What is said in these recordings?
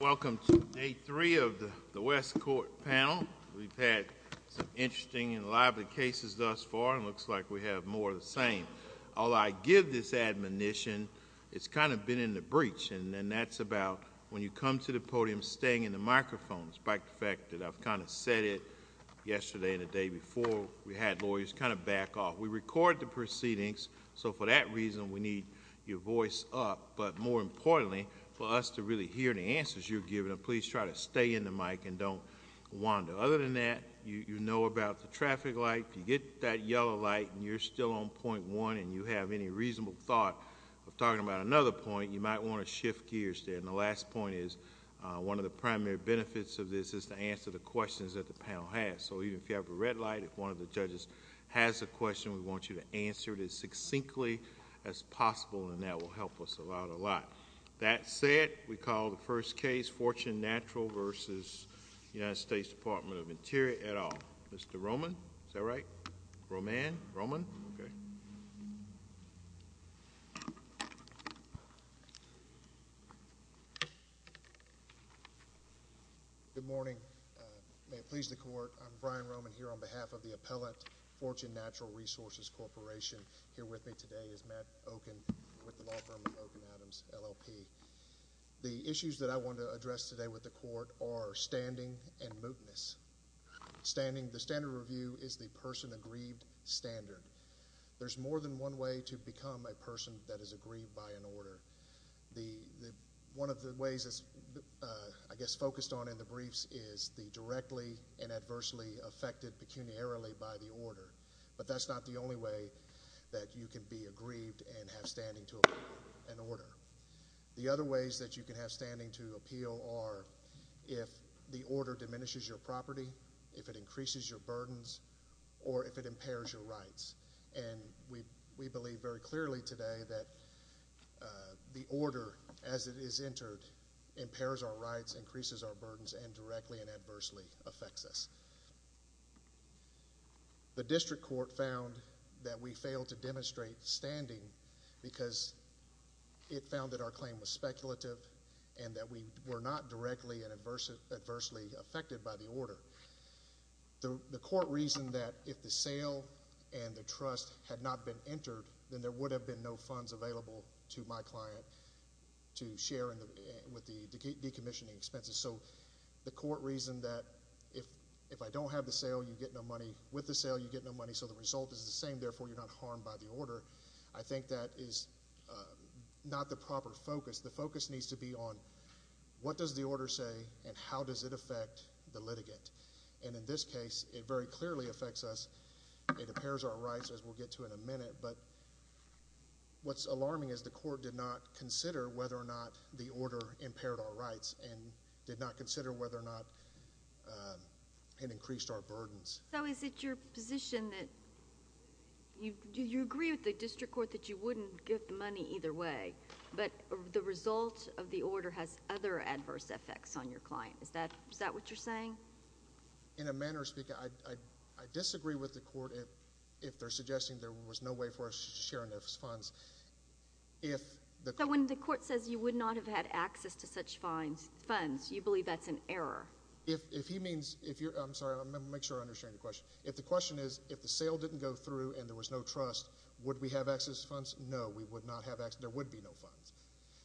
Welcome to day three of the West Court panel. We've had some interesting and lively cases thus far, and it looks like we have more of the same. Although I give this admonition, it's kind of been in the breach, and that's about when you come to the podium staying in the microphone, despite the fact that I've kind of said it yesterday and the day before we had lawyers kind of back off. We record the proceedings, so for that reason we need to keep your voice up. But more importantly, for us to really hear the answers you're giving, please try to stay in the mic and don't wander. Other than that, you know about the traffic light. If you get that yellow light and you're still on point one and you have any reasonable thought of talking about another point, you might want to shift gears there. And the last point is, one of the primary benefits of this is to answer the questions that the panel has. So even if you have a red light, if one of the judges has a question, we want you to answer it as succinctly as possible, and that will help us a lot. That said, we call the first case Fortune Natural v. United States Department of the Interior, et al. Mr. Roman, is that right? Roman? Roman? Okay. Good morning. May it please the Court, I'm Brian Roman here on behalf of the appellate Fortune Natural Resources Corporation. Here with me today is Matt Oken with the law firm of Oken Adams, LLP. The issues that I want to address today with the Court are standing and mootness. The standard review is the person aggrieved standard. There's more than one way to become a person that is aggrieved by an order. One of the ways it's, I guess, focused on in the briefs is the directly and adversely affected pecuniarily by the order. But that's not the only way that you can be aggrieved and have standing to an order. The other ways that you can have standing to appeal are if the order diminishes your property, if it increases your burdens, or if it impairs your rights. And we believe very clearly today that the order, as it is entered, impairs our rights, increases our burdens, and directly and adversely affects us. The District Court found that we failed to demonstrate standing because it found that our claim was speculative and that we were not directly and adversely affected by the order. The Court reasoned that if the sale and the trust had not been entered, then there would have been no funds available to my client to share with the decommissioning expenses. So the Court reasoned that if I don't have the sale, you get no money. With the sale, you get no money. So the result is the same. Therefore, you're not harmed by the order. I think that is not the proper focus. The focus needs to be on what does the order say and how does it affect the litigant. And in this case, it very clearly affects us. It impairs our rights, as we'll get to in a minute. But what's alarming is the Court did not consider whether or not the order impaired our rights and did not consider whether or not it increased our burdens. So is it your position that you agree with the District Court that you wouldn't give the money either way, but the result of the order has other adverse effects on your client? Is that what you're saying? In a manner of speaking, I disagree with the Court if they're suggesting there was no way for us to share enough funds. If the— So when the Court says you would not have had access to such funds, you believe that's an error? If he means—I'm sorry, I want to make sure I understand the question. If the question is if the sale didn't go through and there was no trust, would we have access to funds? No, we would not have access—there would be no funds.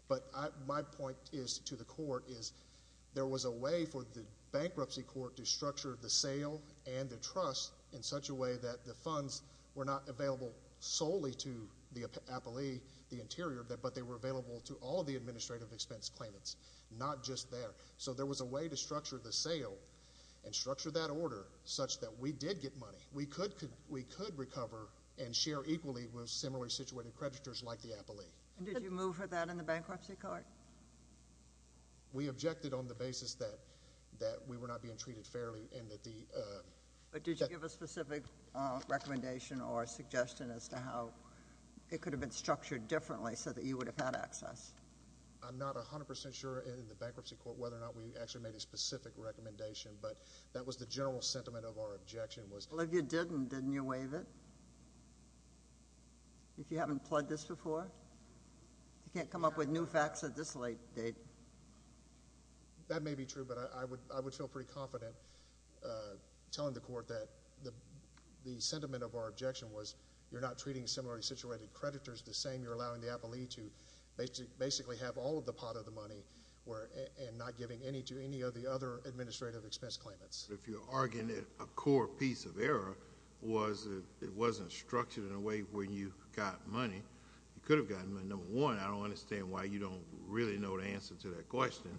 But my point to the Court is there was a way for the Bankruptcy Court to structure the sale and the trust in such a way that the funds were not available solely to the appellee, the interior, but they were available to all of the administrative expense claimants, not just there. So there was a way to structure the sale and structure that order such that we did get money. We could recover and share equally with similarly situated creditors like the appellee. And did you move for that in the Bankruptcy Court? We objected on the basis that we were not being treated fairly and that the— But did you give a specific recommendation or suggestion as to how it could have been structured differently so that you would have had access? I'm not 100 percent sure in the Bankruptcy Court whether or not we actually made a specific recommendation, but that was the general sentiment of our objection was— Well, if you didn't, didn't you waive it? If you haven't pled this before? You can't come up with new facts at this late date. That may be true, but I would feel pretty confident telling the Court that the sentiment of our objection was you're not treating similarly situated creditors the same. You're allowing the appellee to basically have all of the pot of the money and not giving any to any of the other administrative expense claimants. But if you're arguing that a core piece of error was it wasn't structured in a way where you got money, you could have gotten money. Number one, I don't understand why you don't really know the answer to that question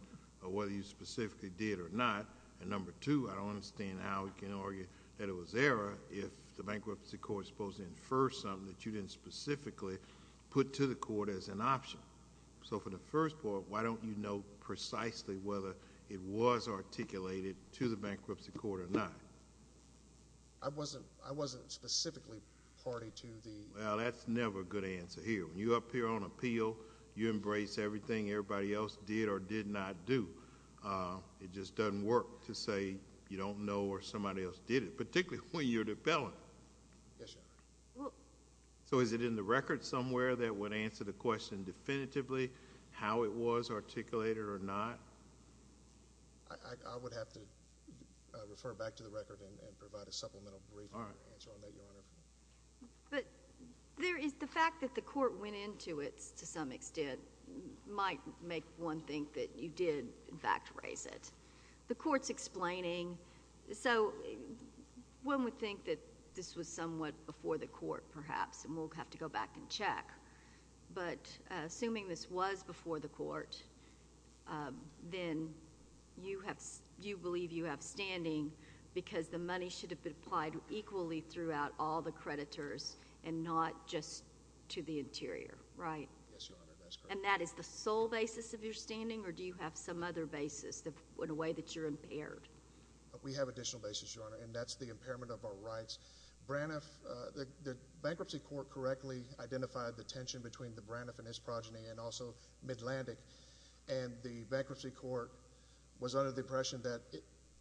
or whether you specifically did or not. And number two, I don't understand how you can argue that it was error if the Bankruptcy Court is supposed to infer something that you didn't specifically put to the court as an option. So for the first part, why don't you know precisely whether it was articulated to the Bankruptcy Court or not? I wasn't specifically party to the... Well, that's never a good answer here. When you appear on appeal, you embrace everything everybody else did or did not do. It just doesn't work to say you don't know or somebody else did it, particularly when you're the appellant. Yes, Your Honor. So is it in the record somewhere that would answer the question definitively how it was articulated or not? I would have to refer back to the record and provide a supplemental brief answer on that, Your Honor. But the fact that the court went into it to some extent might make one think that you did, in fact, raise it. The court's explaining. So one would think that this was somewhat before the court, perhaps, and we'll have to go back and check. But assuming this was before the court, then you believe you have standing because the money should have been applied equally throughout all the creditors and not just to the interior, right? Yes, Your Honor. That's correct. And that is the sole basis of your standing, or do you have some other basis in a way that you're impaired? We have additional basis, Your Honor, and that's the impairment of our rights. Braniff... the Bankruptcy Court correctly identified the tension between the Braniff and his progeny and also Midlandic, and the Bankruptcy Court was under the impression that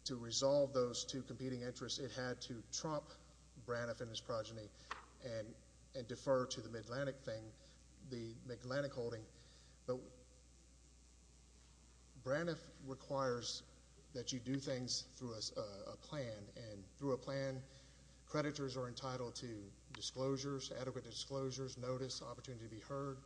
to resolve those two competing interests, it had to trump Braniff and his progeny and defer to the Midlandic thing, the Midlandic holding. But Braniff requires that you do things through a plan, and through a plan, creditors are entitled to disclosures, adequate testimony to be heard.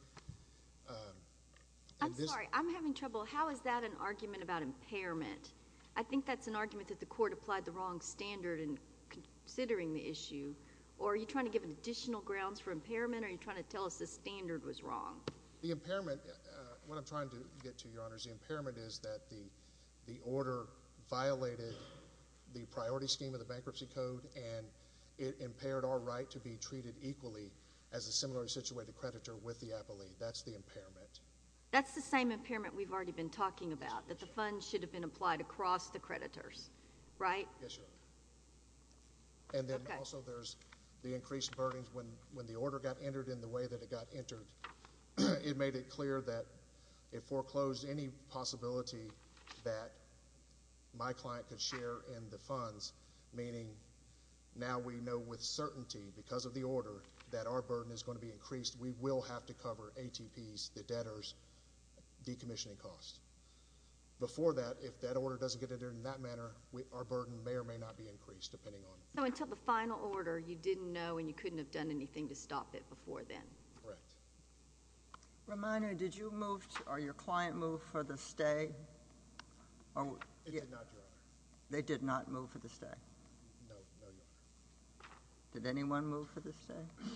I'm sorry. I'm having trouble. How is that an argument about impairment? I think that's an argument that the court applied the wrong standard in considering the issue, or are you trying to give additional grounds for impairment, or are you trying to tell us the standard was wrong? The impairment... what I'm trying to get to, Your Honor, is the impairment is that the order violated the priority scheme of the Bankruptcy Code, and it impaired our right to be treated equally as a similarly situated creditor with the appellee. That's the impairment. That's the same impairment we've already been talking about, that the funds should have been applied across the creditors, right? Yes, Your Honor. Okay. And then also there's the increased burdens when the order got entered in the way that it got entered. It made it clear that it foreclosed any possibility that my client could share in the funds, meaning now we know with certainty, because of the order, that our burden is going to be increased. We will have to cover ATPs, the debtors, decommissioning costs. Before that, if that order doesn't get entered in that manner, our burden may or may not be increased, depending on... So until the final order, you didn't know and you couldn't have done anything to stop it before then. Correct. Reminder, did you move or your client move for the stay? They did not, Your Honor. They did not move for the stay? No, Your Honor. Did anyone move for the stay?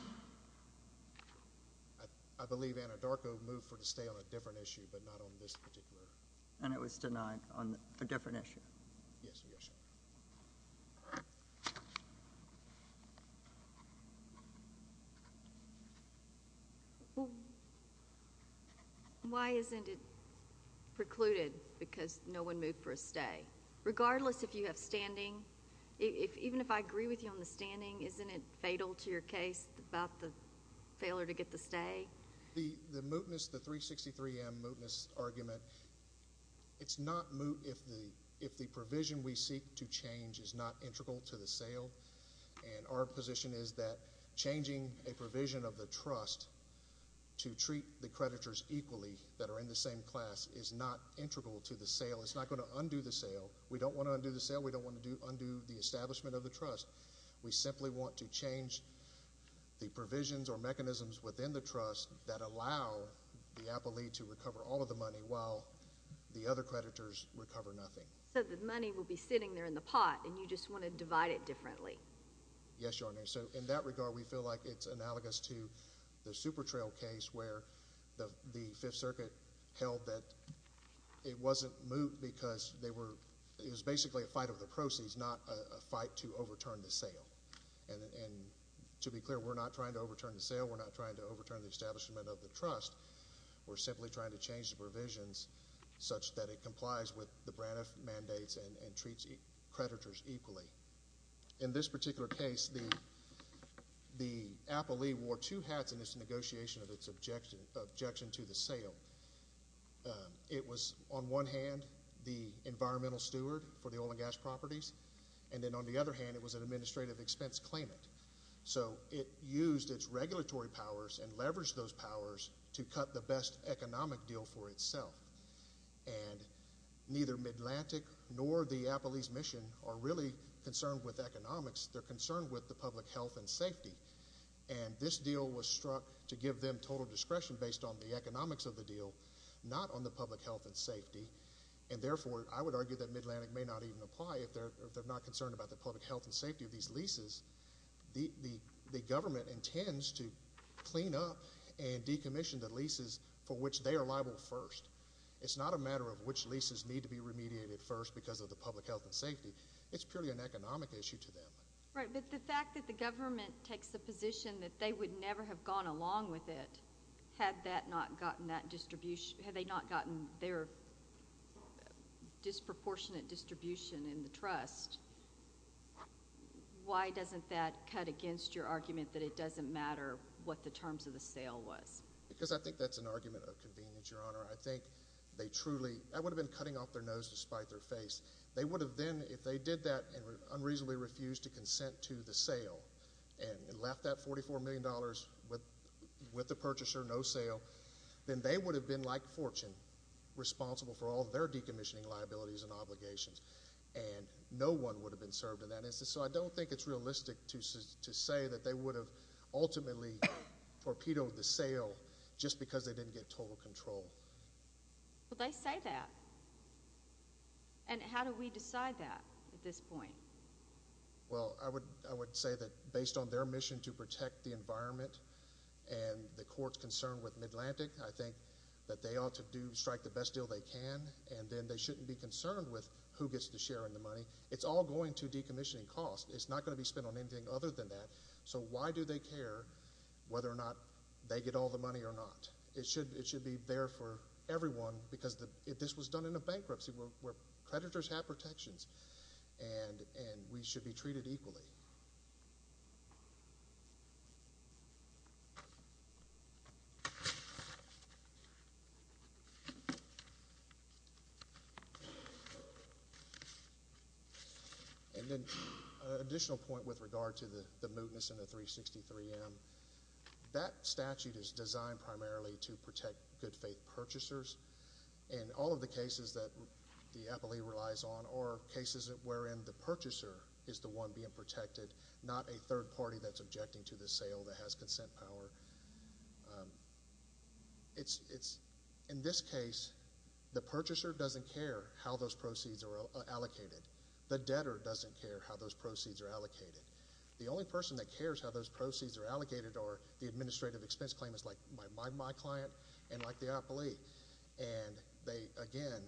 I believe Anadarko moved for the stay on a different issue, but not on this particular. And it was denied on a different issue? Yes, Your Honor. Why isn't it precluded because no one moved for a stay, regardless if you have standing? Even if I agree with you on the standing, isn't it fatal to your case about the failure to get the stay? The mootness, the 363M mootness argument, it's not moot if the provision we seek to change is not integral to the sale. And our position is that changing a provision of the trust to treat the creditors equally that are in the same class is not integral to the sale. It's not going to undo the sale. We don't want to undo the sale. We don't want to undo the establishment of the trust. We simply want to change the provisions or mechanisms within the trust that allow the appellee to recover all of the money while the other creditors recover nothing. So the money will be sitting there in the pot and you just want to divide it differently. Yes, Your Honor. So in that regard, we feel like it's analogous to the Supertrail case where the Fifth Circuit held that it wasn't moot because they were—it was basically a fight over the proceeds, not a fight to overturn the sale. And to be clear, we're not trying to overturn the sale. We're not trying to overturn the establishment of the trust. We're simply trying to change the provisions such that it complies with the In this particular case, the appellee wore two hats in this negotiation of its objection to the sale. It was, on one hand, the environmental steward for the oil and gas properties, and then on the other hand, it was an administrative expense claimant. So it used its regulatory powers and leveraged those powers to cut the best economic deal for itself. And neither Midlantic nor the appellee's mission are really concerned with economics. They're concerned with the public health and safety. And this deal was struck to give them total discretion based on the economics of the deal, not on the public health and safety. And therefore, I would argue that Midlantic may not even apply if they're not concerned about the public health and safety of these leases. The government intends to clean up and decommission the leases for which they are liable first. It's not a matter of which leases need to be remediated first because of the public health and safety. It's purely an economic issue to them. Right. But the fact that the government takes the position that they would never have gone along with it had that not gotten that distribution, had they not gotten their disproportionate distribution in the trust, why doesn't that cut against your argument that it doesn't matter what the terms of the sale was? Because I think that's an argument of convenience, Your Honor. I think they truly—that would have been cutting off their nose to spite their face. They would have then, if they did that and unreasonably refused to consent to the sale and left that $44 million with the purchaser, no sale, then they would have been, like Fortune, responsible for all their decommissioning liabilities and obligations. And no one would have been served in that instance. So I don't think it's realistic to say that they would have ultimately torpedoed the sale just because they didn't get total control. But they say that. And how do we decide that at this point? Well, I would say that based on their mission to protect the environment and the court's concern with Midlantic, I think that they ought to strike the best deal they can, and then they shouldn't be concerned with who gets to share in the money. It's all going to decommissioning cost. It's not going to be spent on anything other than that. So why do they care whether or not they get all the money or not? It should be there for everyone, because if this was done in a bankruptcy, creditors have protections, and we should be treated equally. And then an additional point with regard to the mootness in the 363M, that statute is designed primarily to protect good-faith purchasers. And all of the cases that the third party that's objecting to the sale that has consent power. In this case, the purchaser doesn't care how those proceeds are allocated. The debtor doesn't care how those proceeds are allocated. The only person that cares how those proceeds are allocated are the administrative expense claimants, like my client and like the appellee. And again,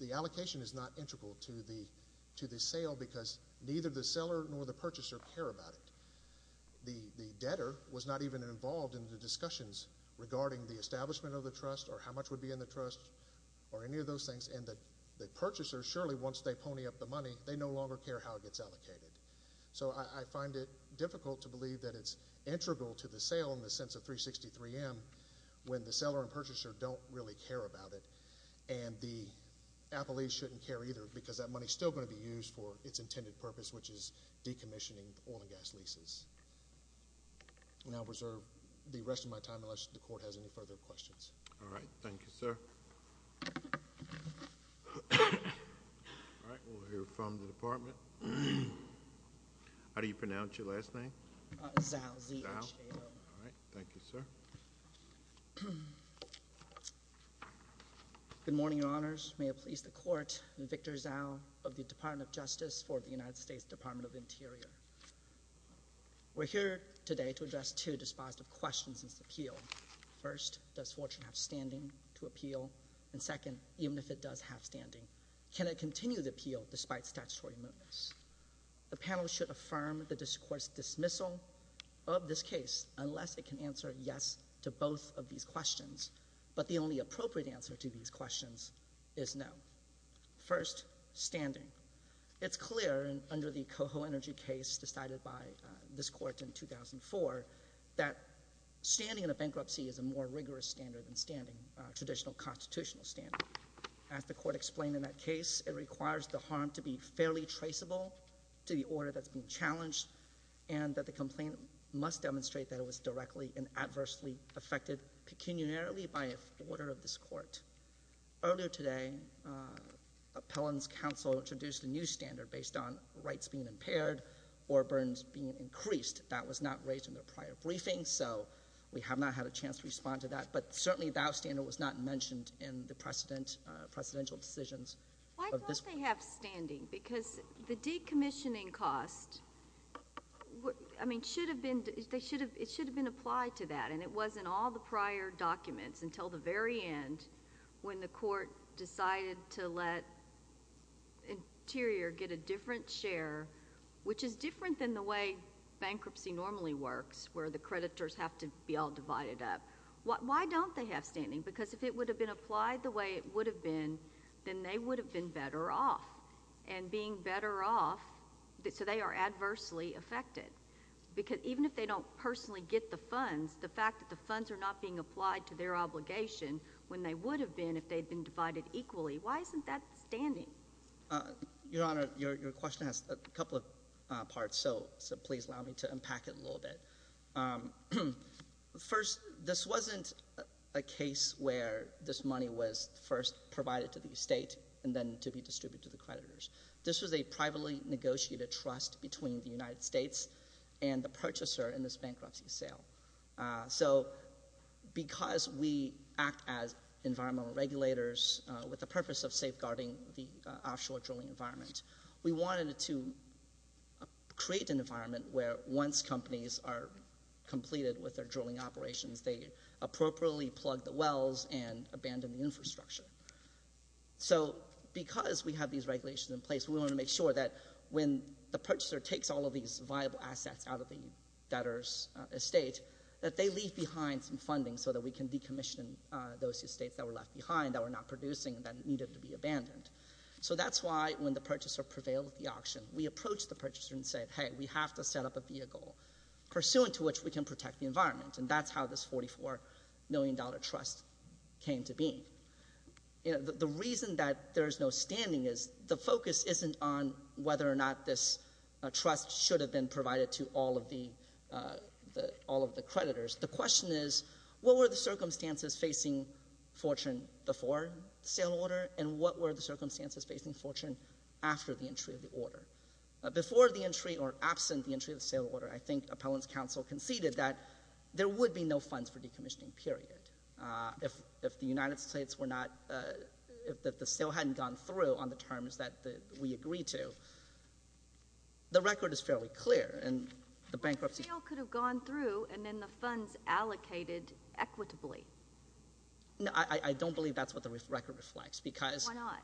the allocation is not integral to the sale, because neither the seller nor the purchaser care about it. The debtor was not even involved in the discussions regarding the establishment of the trust or how much would be in the trust or any of those things, and the purchaser, surely once they pony up the money, they no longer care how it gets allocated. So I find it difficult to believe that it's integral to the sale in the sense of 363M, when the seller and the purchaser don't care either, because that money is still going to be used for its intended purpose, which is decommissioning the oil and gas leases. And I'll reserve the rest of my time unless the Court has any further questions. All right. Thank you, sir. All right. We'll hear from the Department. How do you pronounce your last name? Zao. Z-A-O. Zao. All right. Thank you, sir. Good morning, Your Honors. May it please the Court, I'm Victor Zao of the Department of Justice for the United States Department of the Interior. We're here today to address two dispositive questions in this appeal. First, does Fortune have standing to appeal? And second, even if it does have standing, can it continue the appeal despite statutory movements? The panel should affirm the court's dismissal of this case unless it can answer yes to both of these questions. But the only appropriate answer to these questions is no. First, standing. It's clear under the Coho Energy case decided by this Court in 2004 that standing in a bankruptcy is a more rigorous standard than standing, a traditional constitutional standard. As the Court explained in that case, it requires the harm to be fairly traceable to the order that's being challenged, and that the complaint must demonstrate that it is directly and adversely affected pecuniarily by the order of this Court. Earlier today, Appellant's counsel introduced a new standard based on rights being impaired or burdens being increased. That was not raised in the prior briefing, so we have not had a chance to respond to that. But certainly, Zao's standard was not mentioned in the precedent — presidential decisions of this Court. Why don't they have standing? Because the decommissioning cost, I mean, should have been applied to that, and it was in all the prior documents until the very end when the Court decided to let Interior get a different share, which is different than the way bankruptcy normally works, where the creditors have to be all divided up. Why don't they have standing? Because if it would have been applied the way it would have been, then they would have been better off, and being better off, so they are adversely affected. Because even if they don't personally get the funds, the fact that the funds are not being applied to their obligation when they would have been if they had been divided equally, why isn't that standing? Your Honor, your question has a couple of parts, so please allow me to unpack it a little bit. First, this wasn't a case where this money was first provided to the estate and then to be distributed to the creditors. This was a privately negotiated trust between the creditor and the purchaser in this bankruptcy sale. So because we act as environmental regulators with the purpose of safeguarding the offshore drilling environment, we wanted to create an environment where once companies are completed with their drilling operations, they appropriately plug the wells and abandon the infrastructure. So because we have these regulations in place, we wanted to make sure that when the purchaser takes all of these viable assets out of the debtor's estate, that they leave behind some funding so that we can decommission those estates that were left behind, that were not producing, that needed to be abandoned. So that's why when the purchaser prevailed at the auction, we approached the purchaser and said, hey, we have to set up a vehicle pursuant to which we can protect the environment, and that's how this $44 million trust came to be. The reason that there is no standing is the focus isn't on whether or not this trust should have been provided to all of the creditors. The question is, what were the circumstances facing Fortune before the sale order, and what were the circumstances facing Fortune after the entry of the order? Before the entry or absent the entry of the sale order, I think Appellant's counsel conceded that there would be no funds for decommissioning, period. If the United States were not — if the sale hadn't gone through on the terms that we agreed to, the record is fairly clear, and the bankruptcy — But the sale could have gone through, and then the funds allocated equitably. No, I don't believe that's what the record reflects, because — Why not?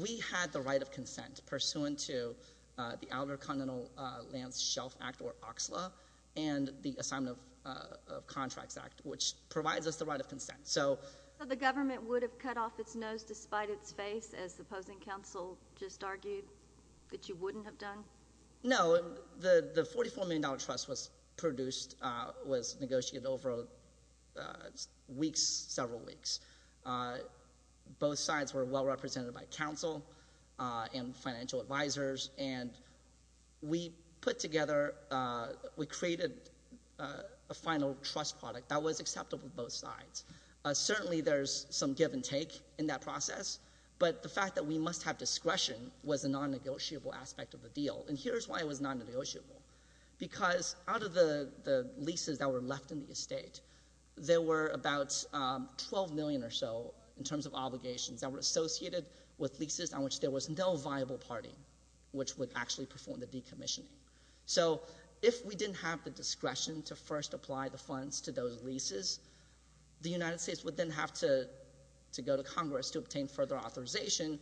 We had the right of consent pursuant to the Outer Continental Lands Shelf Act, or OCSLA, and the Assignment of Contracts Act, which provides us the right of consent. So the government would have cut off its nose despite its face, as the opposing counsel just argued, that you wouldn't have done? No, the $44 million trust was produced — was negotiated over weeks, several weeks. Both sides were well-represented by counsel and financial advisors, and we put together — we created a final trust product that was acceptable to both sides. Certainly there's some give and take in that process, but the fact that we must have discretion was a non-negotiable aspect of the deal, and here's why it was non-negotiable. Because out of the leases that were left in the estate, there were about $12 million or so in terms of obligations that were associated with leases on which there was no viable party which would actually perform the decommissioning. So if we didn't have the discretion to first apply the funds to those leases, the United States would then have to go to Congress to obtain further authorization,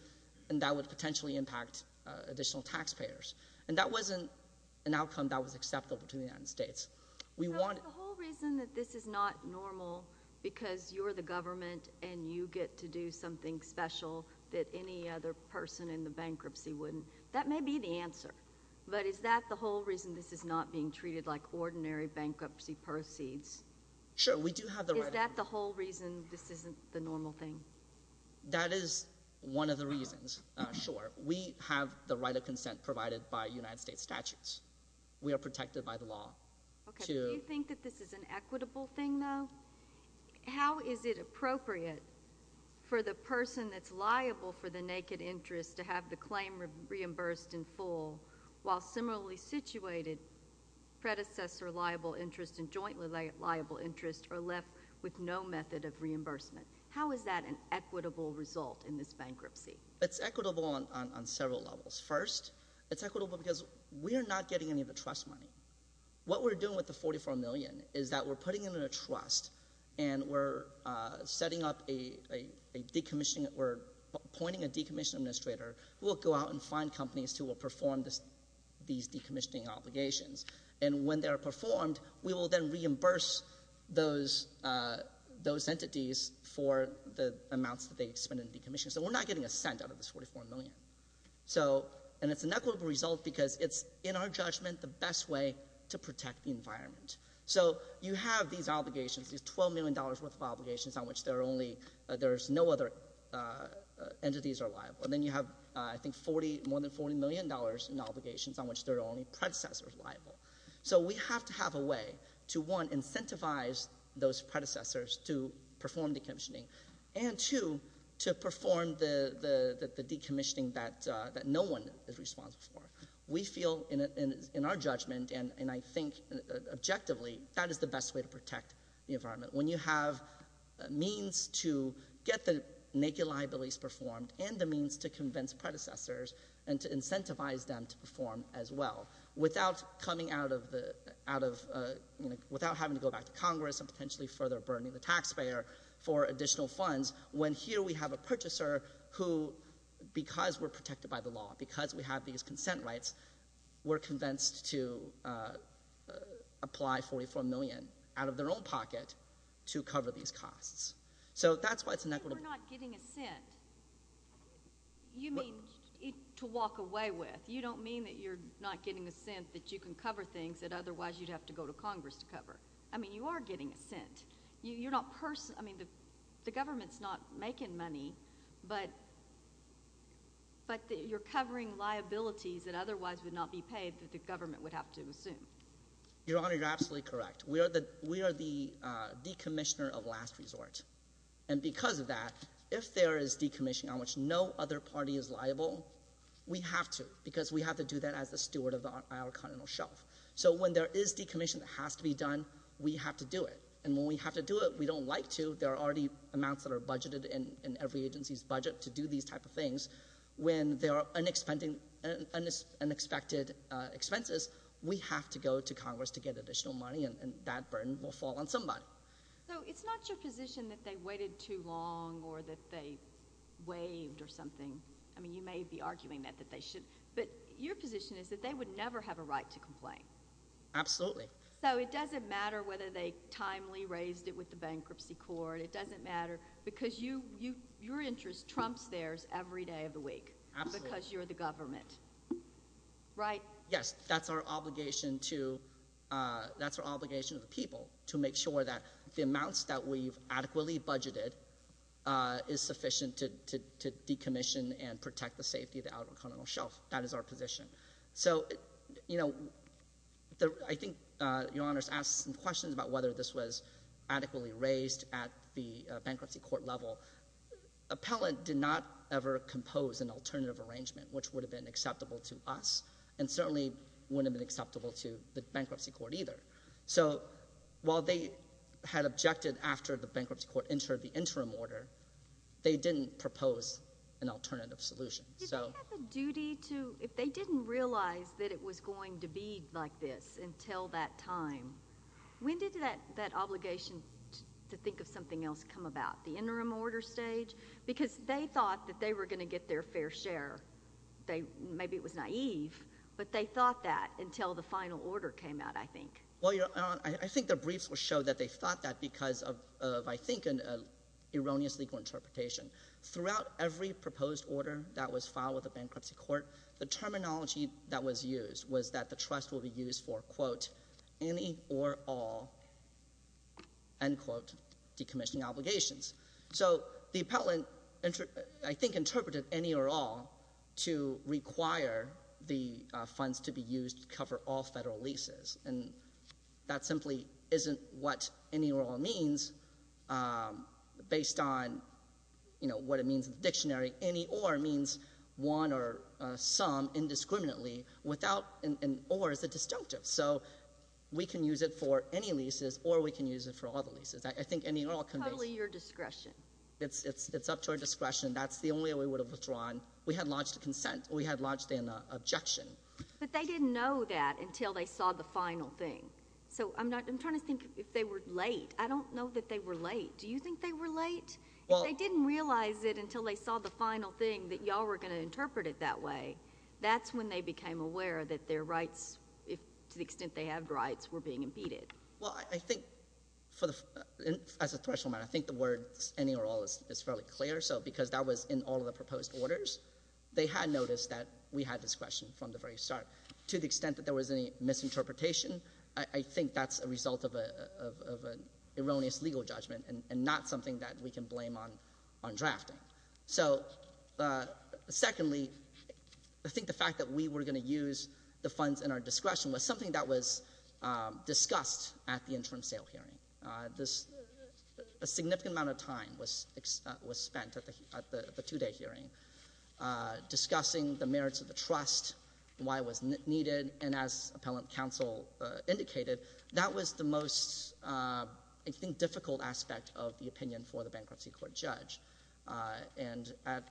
and that would potentially impact additional taxpayers. And that wasn't an outcome that was acceptable to the United States. So is the whole reason that this is not normal because you're the government and you get to do something special that any other person in the bankruptcy wouldn't — that may be the answer, but is that the whole reason this is not being treated like ordinary bankruptcy proceeds? Sure, we do have the right — Is that the whole reason this isn't the normal thing? That is one of the reasons, sure. We have the right of consent provided by United States statutes. We are protected by the law. Do you think that this is an equitable thing, though? How is it appropriate for the person that's liable for the naked interest to have the claim reimbursed in full while similarly situated predecessor liable interest and jointly liable interest are left with no method of reimbursement? How is that an equitable result in this bankruptcy? It's equitable on several levels. First, it's equitable because we are not getting any of the trust money. What we're doing with the $44 million is that we're putting it in a trust and we're setting up a decommissioning — we're appointing a decommissioning administrator who will go out and find companies who will perform these decommissioning obligations. And when they are performed, we will then reimburse those entities for the amounts that they spend in decommissioning. So we're not getting a cent out of this $44 million. And it's an equitable result because it's, in our judgment, the best way to protect the environment. So you have these obligations, these $12 million worth of obligations on which there's no other entities are liable. And then you have, I think, more than $40 million in obligations on which there are only predecessors liable. So we have to have a way to, one, incentivize those predecessors to perform decommissioning and, two, to perform the decommissioning that no one is responsible for. We feel, in our judgment, and I think objectively, that is the best way to protect the environment. When you have means to get the naked liabilities performed and the means to convince predecessors and to incentivize them to perform as well without having to go back to Congress and potentially further burdening the taxpayer for additional funds, when here we have a purchaser who, because we're protected by the law, because we have these consent rights, we're convinced to apply $44 million out of their own pocket to cover these costs. So that's why it's inequitable. You're not getting a cent. You mean to walk away with. You don't mean that you're not getting a cent that you can cover things that otherwise you'd have to go to Congress to cover. I mean, you are getting a cent. You're not personal. I mean, the government's not making money, but you're covering liabilities that otherwise would not be paid that the government would have to assume. Your Honor, you're absolutely correct. We are the decommissioner of last resort, and because of that, if there is decommissioning on which no other party is liable, we have to because we have to do that as the steward of our continental shelf. So when there is decommissioning that has to be done, we have to do it, and when we have to do it, we don't like to. There are already amounts that are budgeted in every agency's budget to do these types of things. When there are unexpected expenses, we have to go to Congress to get additional money, and that burden will fall on somebody. So it's not your position that they waited too long or that they waived or something. I mean, you may be arguing that they should, but your position is that they would never have a right to complain. Absolutely. So it doesn't matter whether they timely raised it with the bankruptcy court. It doesn't matter because your interest trumps theirs every day of the week because you're the government, right? Yes. That's our obligation to the people to make sure that the amounts that we've adequately budgeted is sufficient to decommission and protect the safety of the outer continental shelf. That is our position. So, you know, I think Your Honors asked some questions about whether this was adequately raised at the bankruptcy court level. Appellant did not ever compose an alternative arrangement, which would have been acceptable to us and certainly wouldn't have been acceptable to the bankruptcy court either. So while they had objected after the bankruptcy court entered the interim order, they didn't propose an alternative solution. If they didn't realize that it was going to be like this until that time, when did that obligation to think of something else come about, the interim order stage? Because they thought that they were going to get their fair share. Maybe it was naive, but they thought that until the final order came out, I think. Well, Your Honor, I think the briefs will show that they thought that because of, I think, an erroneous legal interpretation. Throughout every proposed order that was filed with the bankruptcy court, the terminology that was used was that the trust will be used for, quote, any or all, end quote, decommissioning obligations. So the appellant, I think, interpreted any or all to require the funds to be used to cover all federal leases, and that simply isn't what any or all means based on, you know, what it means in the dictionary. Any or means one or some indiscriminately. Without an or, it's a disjunctive. So we can use it for any leases or we can use it for all the leases. I think any or all conveys- It's totally your discretion. It's up to our discretion. That's the only way we would have withdrawn. We had lodged a consent. We had lodged an objection. But they didn't know that until they saw the final thing. So I'm trying to think if they were late. I don't know that they were late. Do you think they were late? Well- If they didn't realize it until they saw the final thing that y'all were going to interpret it that way, that's when they became aware that their rights, to the extent they have rights, were being impeded. Well, I think, as a threshold matter, I think the word any or all is fairly clear. So because that was in all of the proposed orders, they had noticed that we had discretion from the very start. To the extent that there was any misinterpretation, I think that's a result of an erroneous legal judgment and not something that we can blame on drafting. So, secondly, I think the fact that we were going to use the funds in our discretion was something that was discussed at the interim sale hearing. A significant amount of time was spent at the two-day hearing discussing the merits of the trust, why it was needed, and as appellant counsel indicated, that was the most, I think, difficult aspect of the opinion for the bankruptcy court judge. And at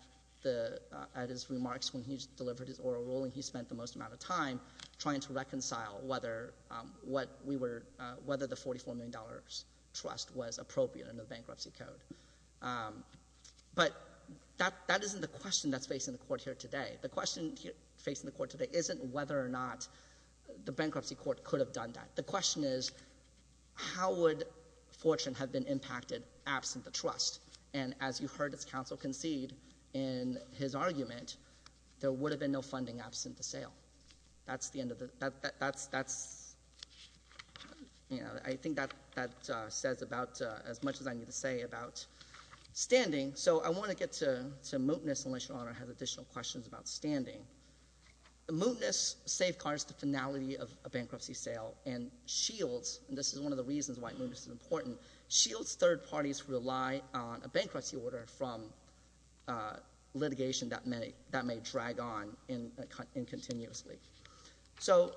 his remarks when he delivered his oral ruling, he spent the most amount of time trying to reconcile whether the $44 million trust was appropriate under the bankruptcy code. But that isn't the question that's facing the court here today. The question facing the court today isn't whether or not the bankruptcy court could have done that. The question is, how would Fortune have been impacted absent the trust? And as you heard as counsel concede in his argument, there would have been no funding absent the sale. That's the end of it. That's, you know, I think that says about as much as I need to say about standing. So I want to get to mootness, unless your Honor has additional questions about standing. Mootness safeguards the finality of a bankruptcy sale, and Shields, and this is one of the reasons why mootness is important, Shields' third parties rely on a bankruptcy order from litigation that may drag on incontinuously. So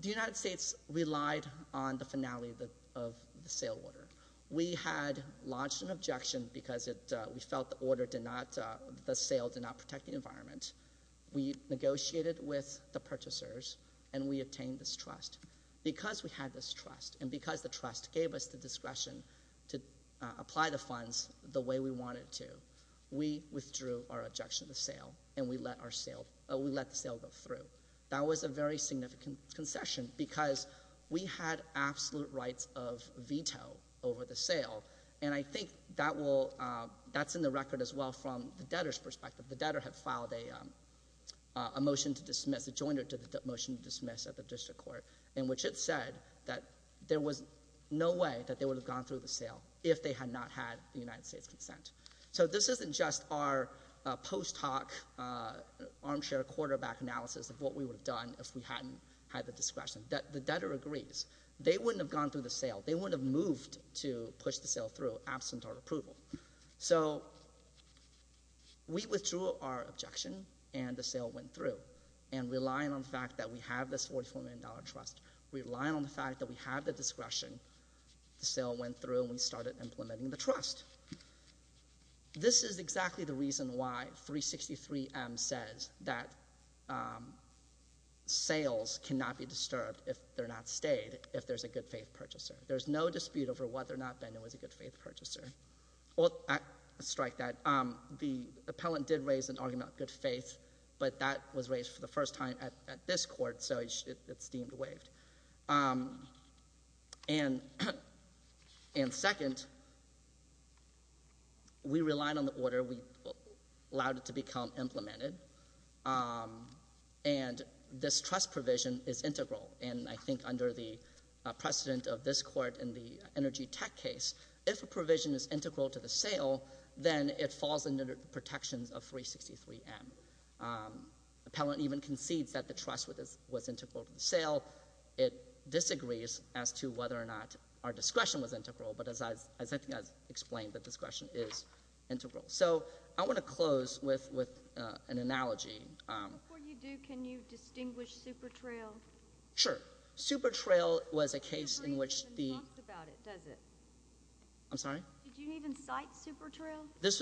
the United States relied on the finality of the sale order. We had launched an objection because we felt the sale did not protect the environment. We negotiated with the purchasers, and we obtained this trust. Because we had this trust, and because the trust gave us the discretion to apply the funds the way we wanted to, we withdrew our objection to sale, and we let the sale go through. That was a very significant concession because we had absolute rights of veto over the sale, and I think that's in the record as well from the debtor's perspective. The debtor had filed a motion to dismiss, a joint motion to dismiss at the district court, in which it said that there was no way that they would have gone through the sale if they had not had the United States' consent. So this isn't just our post hoc armchair quarterback analysis of what we would have done if we hadn't had the discretion. The debtor agrees. They wouldn't have gone through the sale. They wouldn't have moved to push the sale through absent our approval. So we withdrew our objection, and the sale went through. And relying on the fact that we have this $44 million trust, relying on the fact that we have the discretion, the sale went through and we started implementing the trust. This is exactly the reason why 363M says that sales cannot be disturbed if they're not stayed, if there's a good faith purchaser. There's no dispute over whether or not Bender was a good faith purchaser. Well, strike that. The appellant did raise an argument about good faith, but that was raised for the first time at this court, so it's deemed waived. And second, we relied on the order. We allowed it to become implemented, and this trust provision is integral, and I think under the precedent of this court in the energy tech case, if a provision is integral to the sale, then it falls under the protections of 363M. Appellant even concedes that the trust was integral to the sale. It disagrees as to whether or not our discretion was integral, but as I think I explained, the discretion is integral. So I want to close with an analogy. Before you do, can you distinguish Supertrail? Sure. Supertrail was a case in which the- You haven't talked about it, has it? I'm sorry? Did you even cite Supertrail? This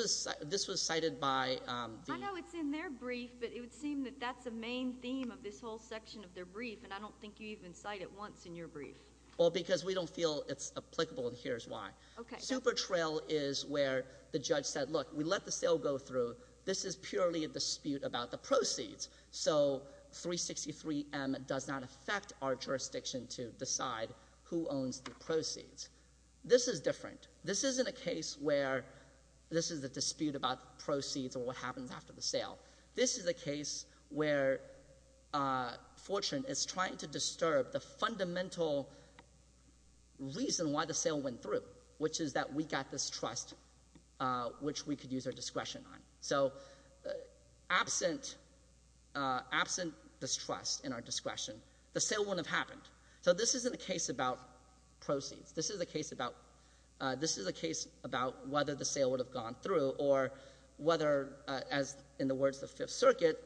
was cited by the- I know it's in their brief, but it would seem that that's the main theme of this whole section of their brief, and I don't think you even cite it once in your brief. Well, because we don't feel it's applicable, and here's why. Okay. Supertrail is where the judge said, look, we let the sale go through. This is purely a dispute about the proceeds. So 363M does not affect our jurisdiction to decide who owns the proceeds. This is different. This isn't a case where this is a dispute about proceeds or what happens after the sale. This is a case where Fortune is trying to disturb the fundamental reason why the sale went through, which is that we got this trust which we could use our discretion on. So absent this trust in our discretion, the sale wouldn't have happened. So this isn't a case about proceeds. This is a case about whether the sale would have gone through or whether, as in the words of Fifth Circuit,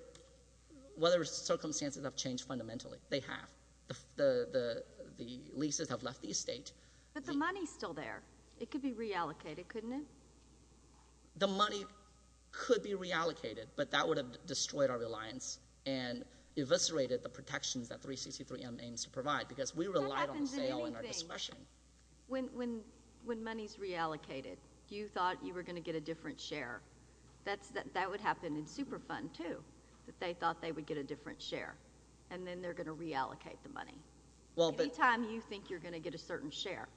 whether circumstances have changed fundamentally. They have. The leases have left the estate. But the money is still there. It could be reallocated, couldn't it? The money could be reallocated, but that would have destroyed our reliance and eviscerated the protections that 363M aims to provide because we relied on the sale and our discretion. When money is reallocated, you thought you were going to get a different share. That would happen in Superfund, too, that they thought they would get a different share, and then they're going to reallocate the money. Any time you think you're going to get a certain share.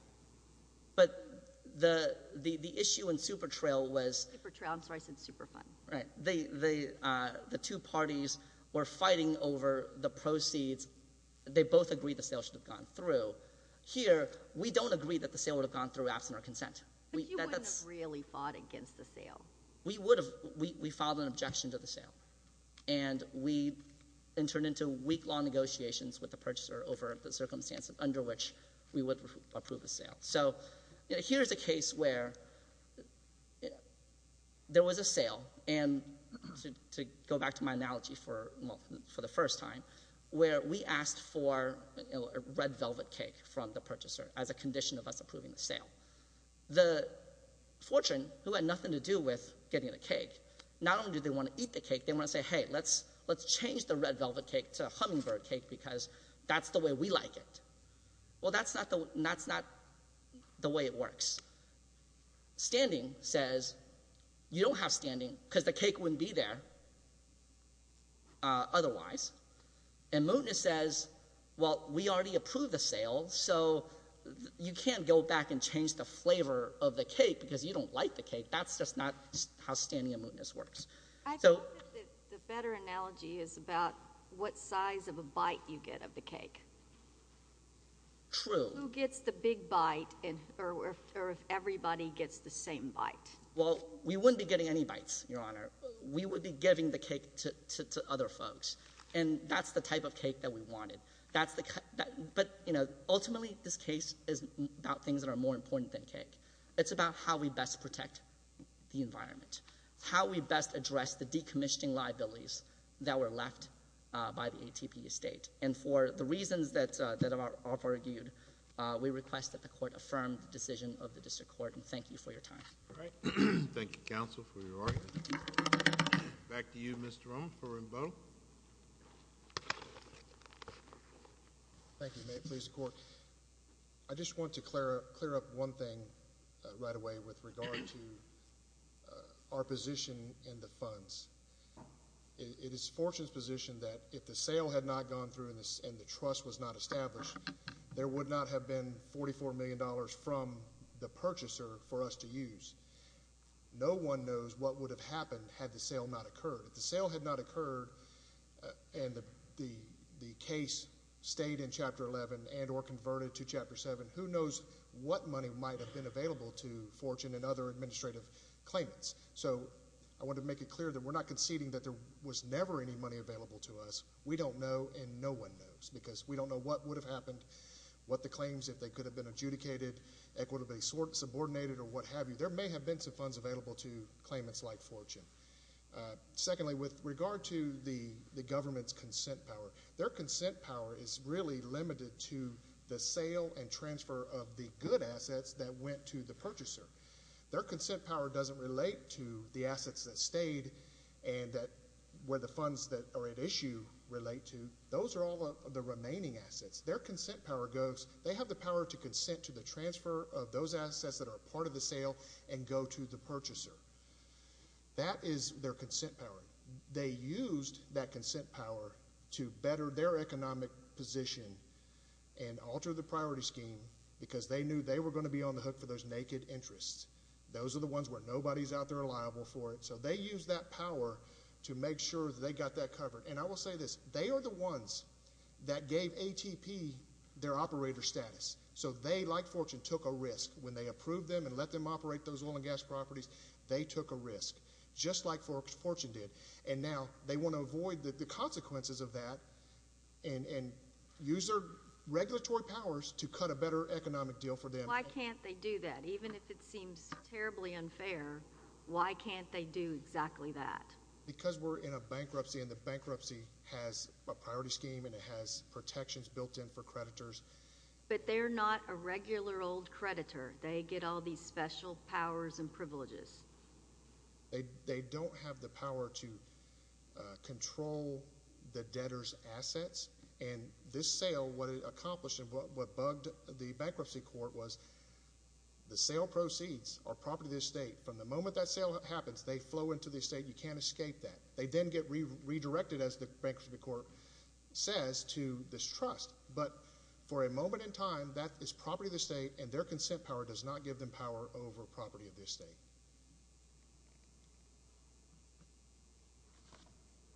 But the issue in Supertrail was— Supertrail, I'm sorry, I said Superfund. Right. The two parties were fighting over the proceeds. They both agreed the sale should have gone through. Here, we don't agree that the sale would have gone through absent our consent. But you wouldn't have really fought against the sale. We would have. We filed an objection to the sale, and we entered into week-long negotiations with the purchaser over the circumstance under which we would approve a sale. So here's a case where there was a sale, and to go back to my analogy for the first time, where we asked for a red velvet cake from the purchaser as a condition of us approving the sale. The fortune, who had nothing to do with getting the cake, not only did they want to eat the cake, they want to say, hey, let's change the red velvet cake to a hummingbird cake because that's the way we like it. Well, that's not the way it works. Standing says, you don't have standing because the cake wouldn't be there otherwise. And Mootness says, well, we already approved the sale, so you can't go back and change the flavor of the cake because you don't like the cake. That's just not how Standing and Mootness works. I thought that the better analogy is about what size of a bite you get of the cake. True. Who gets the big bite, or if everybody gets the same bite? Well, we wouldn't be getting any bites, Your Honor. We would be giving the cake to other folks, and that's the type of cake that we wanted. But, you know, ultimately this case is about things that are more important than cake. It's about how we best protect the environment, how we best address the decommissioning liabilities that were left by the ATP estate. And for the reasons that are argued, we request that the court affirm the decision of the district court. And thank you for your time. All right. Thank you, counsel, for your argument. Back to you, Mr. Rohn, for Rimbaud. Thank you. May it please the court. I just want to clear up one thing right away with regard to our position in the funds. It is Fortune's position that if the sale had not gone through and the trust was not established, there would not have been $44 million from the purchaser for us to use. No one knows what would have happened had the sale not occurred. If the sale had not occurred and the case stayed in Chapter 11 and or converted to Chapter 7, who knows what money might have been available to Fortune and other administrative claimants. So I want to make it clear that we're not conceding that there was never any money available to us. We don't know, and no one knows, because we don't know what would have happened, what the claims, if they could have been adjudicated, equitably subordinated, or what have you. There may have been some funds available to claimants like Fortune. Secondly, with regard to the government's consent power, their consent power is really limited to the sale and transfer of the good assets that went to the purchaser. Their consent power doesn't relate to the assets that stayed and where the funds that are at issue relate to. Those are all the remaining assets. Their consent power goes, they have the power to consent to the transfer of those assets that are part of the sale and go to the purchaser. That is their consent power. They used that consent power to better their economic position and alter the priority scheme because they knew they were going to be on the hook for those naked interests. Those are the ones where nobody's out there liable for it. So they used that power to make sure that they got that covered. And I will say this, they are the ones that gave ATP their operator status. So they, like Fortune, took a risk when they approved them and let them operate those oil and gas properties. They took a risk, just like Fortune did. And now they want to avoid the consequences of that and use their regulatory powers to cut a better economic deal for them. Why can't they do that? Even if it seems terribly unfair, why can't they do exactly that? Because we're in a bankruptcy, and the bankruptcy has a priority scheme and it has protections built in for creditors. But they're not a regular old creditor. They get all these special powers and privileges. They don't have the power to control the debtor's assets. And this sale, what it accomplished and what bugged the bankruptcy court was the sale proceeds are property of the estate. From the moment that sale happens, they flow into the estate. You can't escape that. They then get redirected, as the bankruptcy court says, to this trust. But for a moment in time, that is property of the estate, and their consent power does not give them power over property of the estate.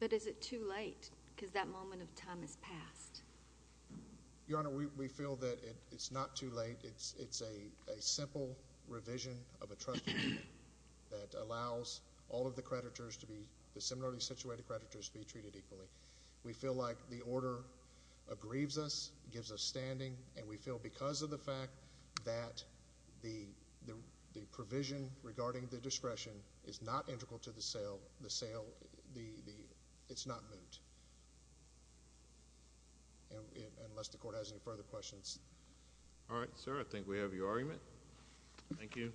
But is it too late? Because that moment of time has passed. Your Honor, we feel that it's not too late. It's a simple revision of a trust agreement that allows all of the creditors to be, the similarly situated creditors, to be treated equally. We feel like the order aggrieves us, gives us standing, and we feel because of the fact that the provision regarding the discretion is not integral to the sale, it's not moot. Unless the court has any further questions. All right, sir. I think we have your argument. Thank you.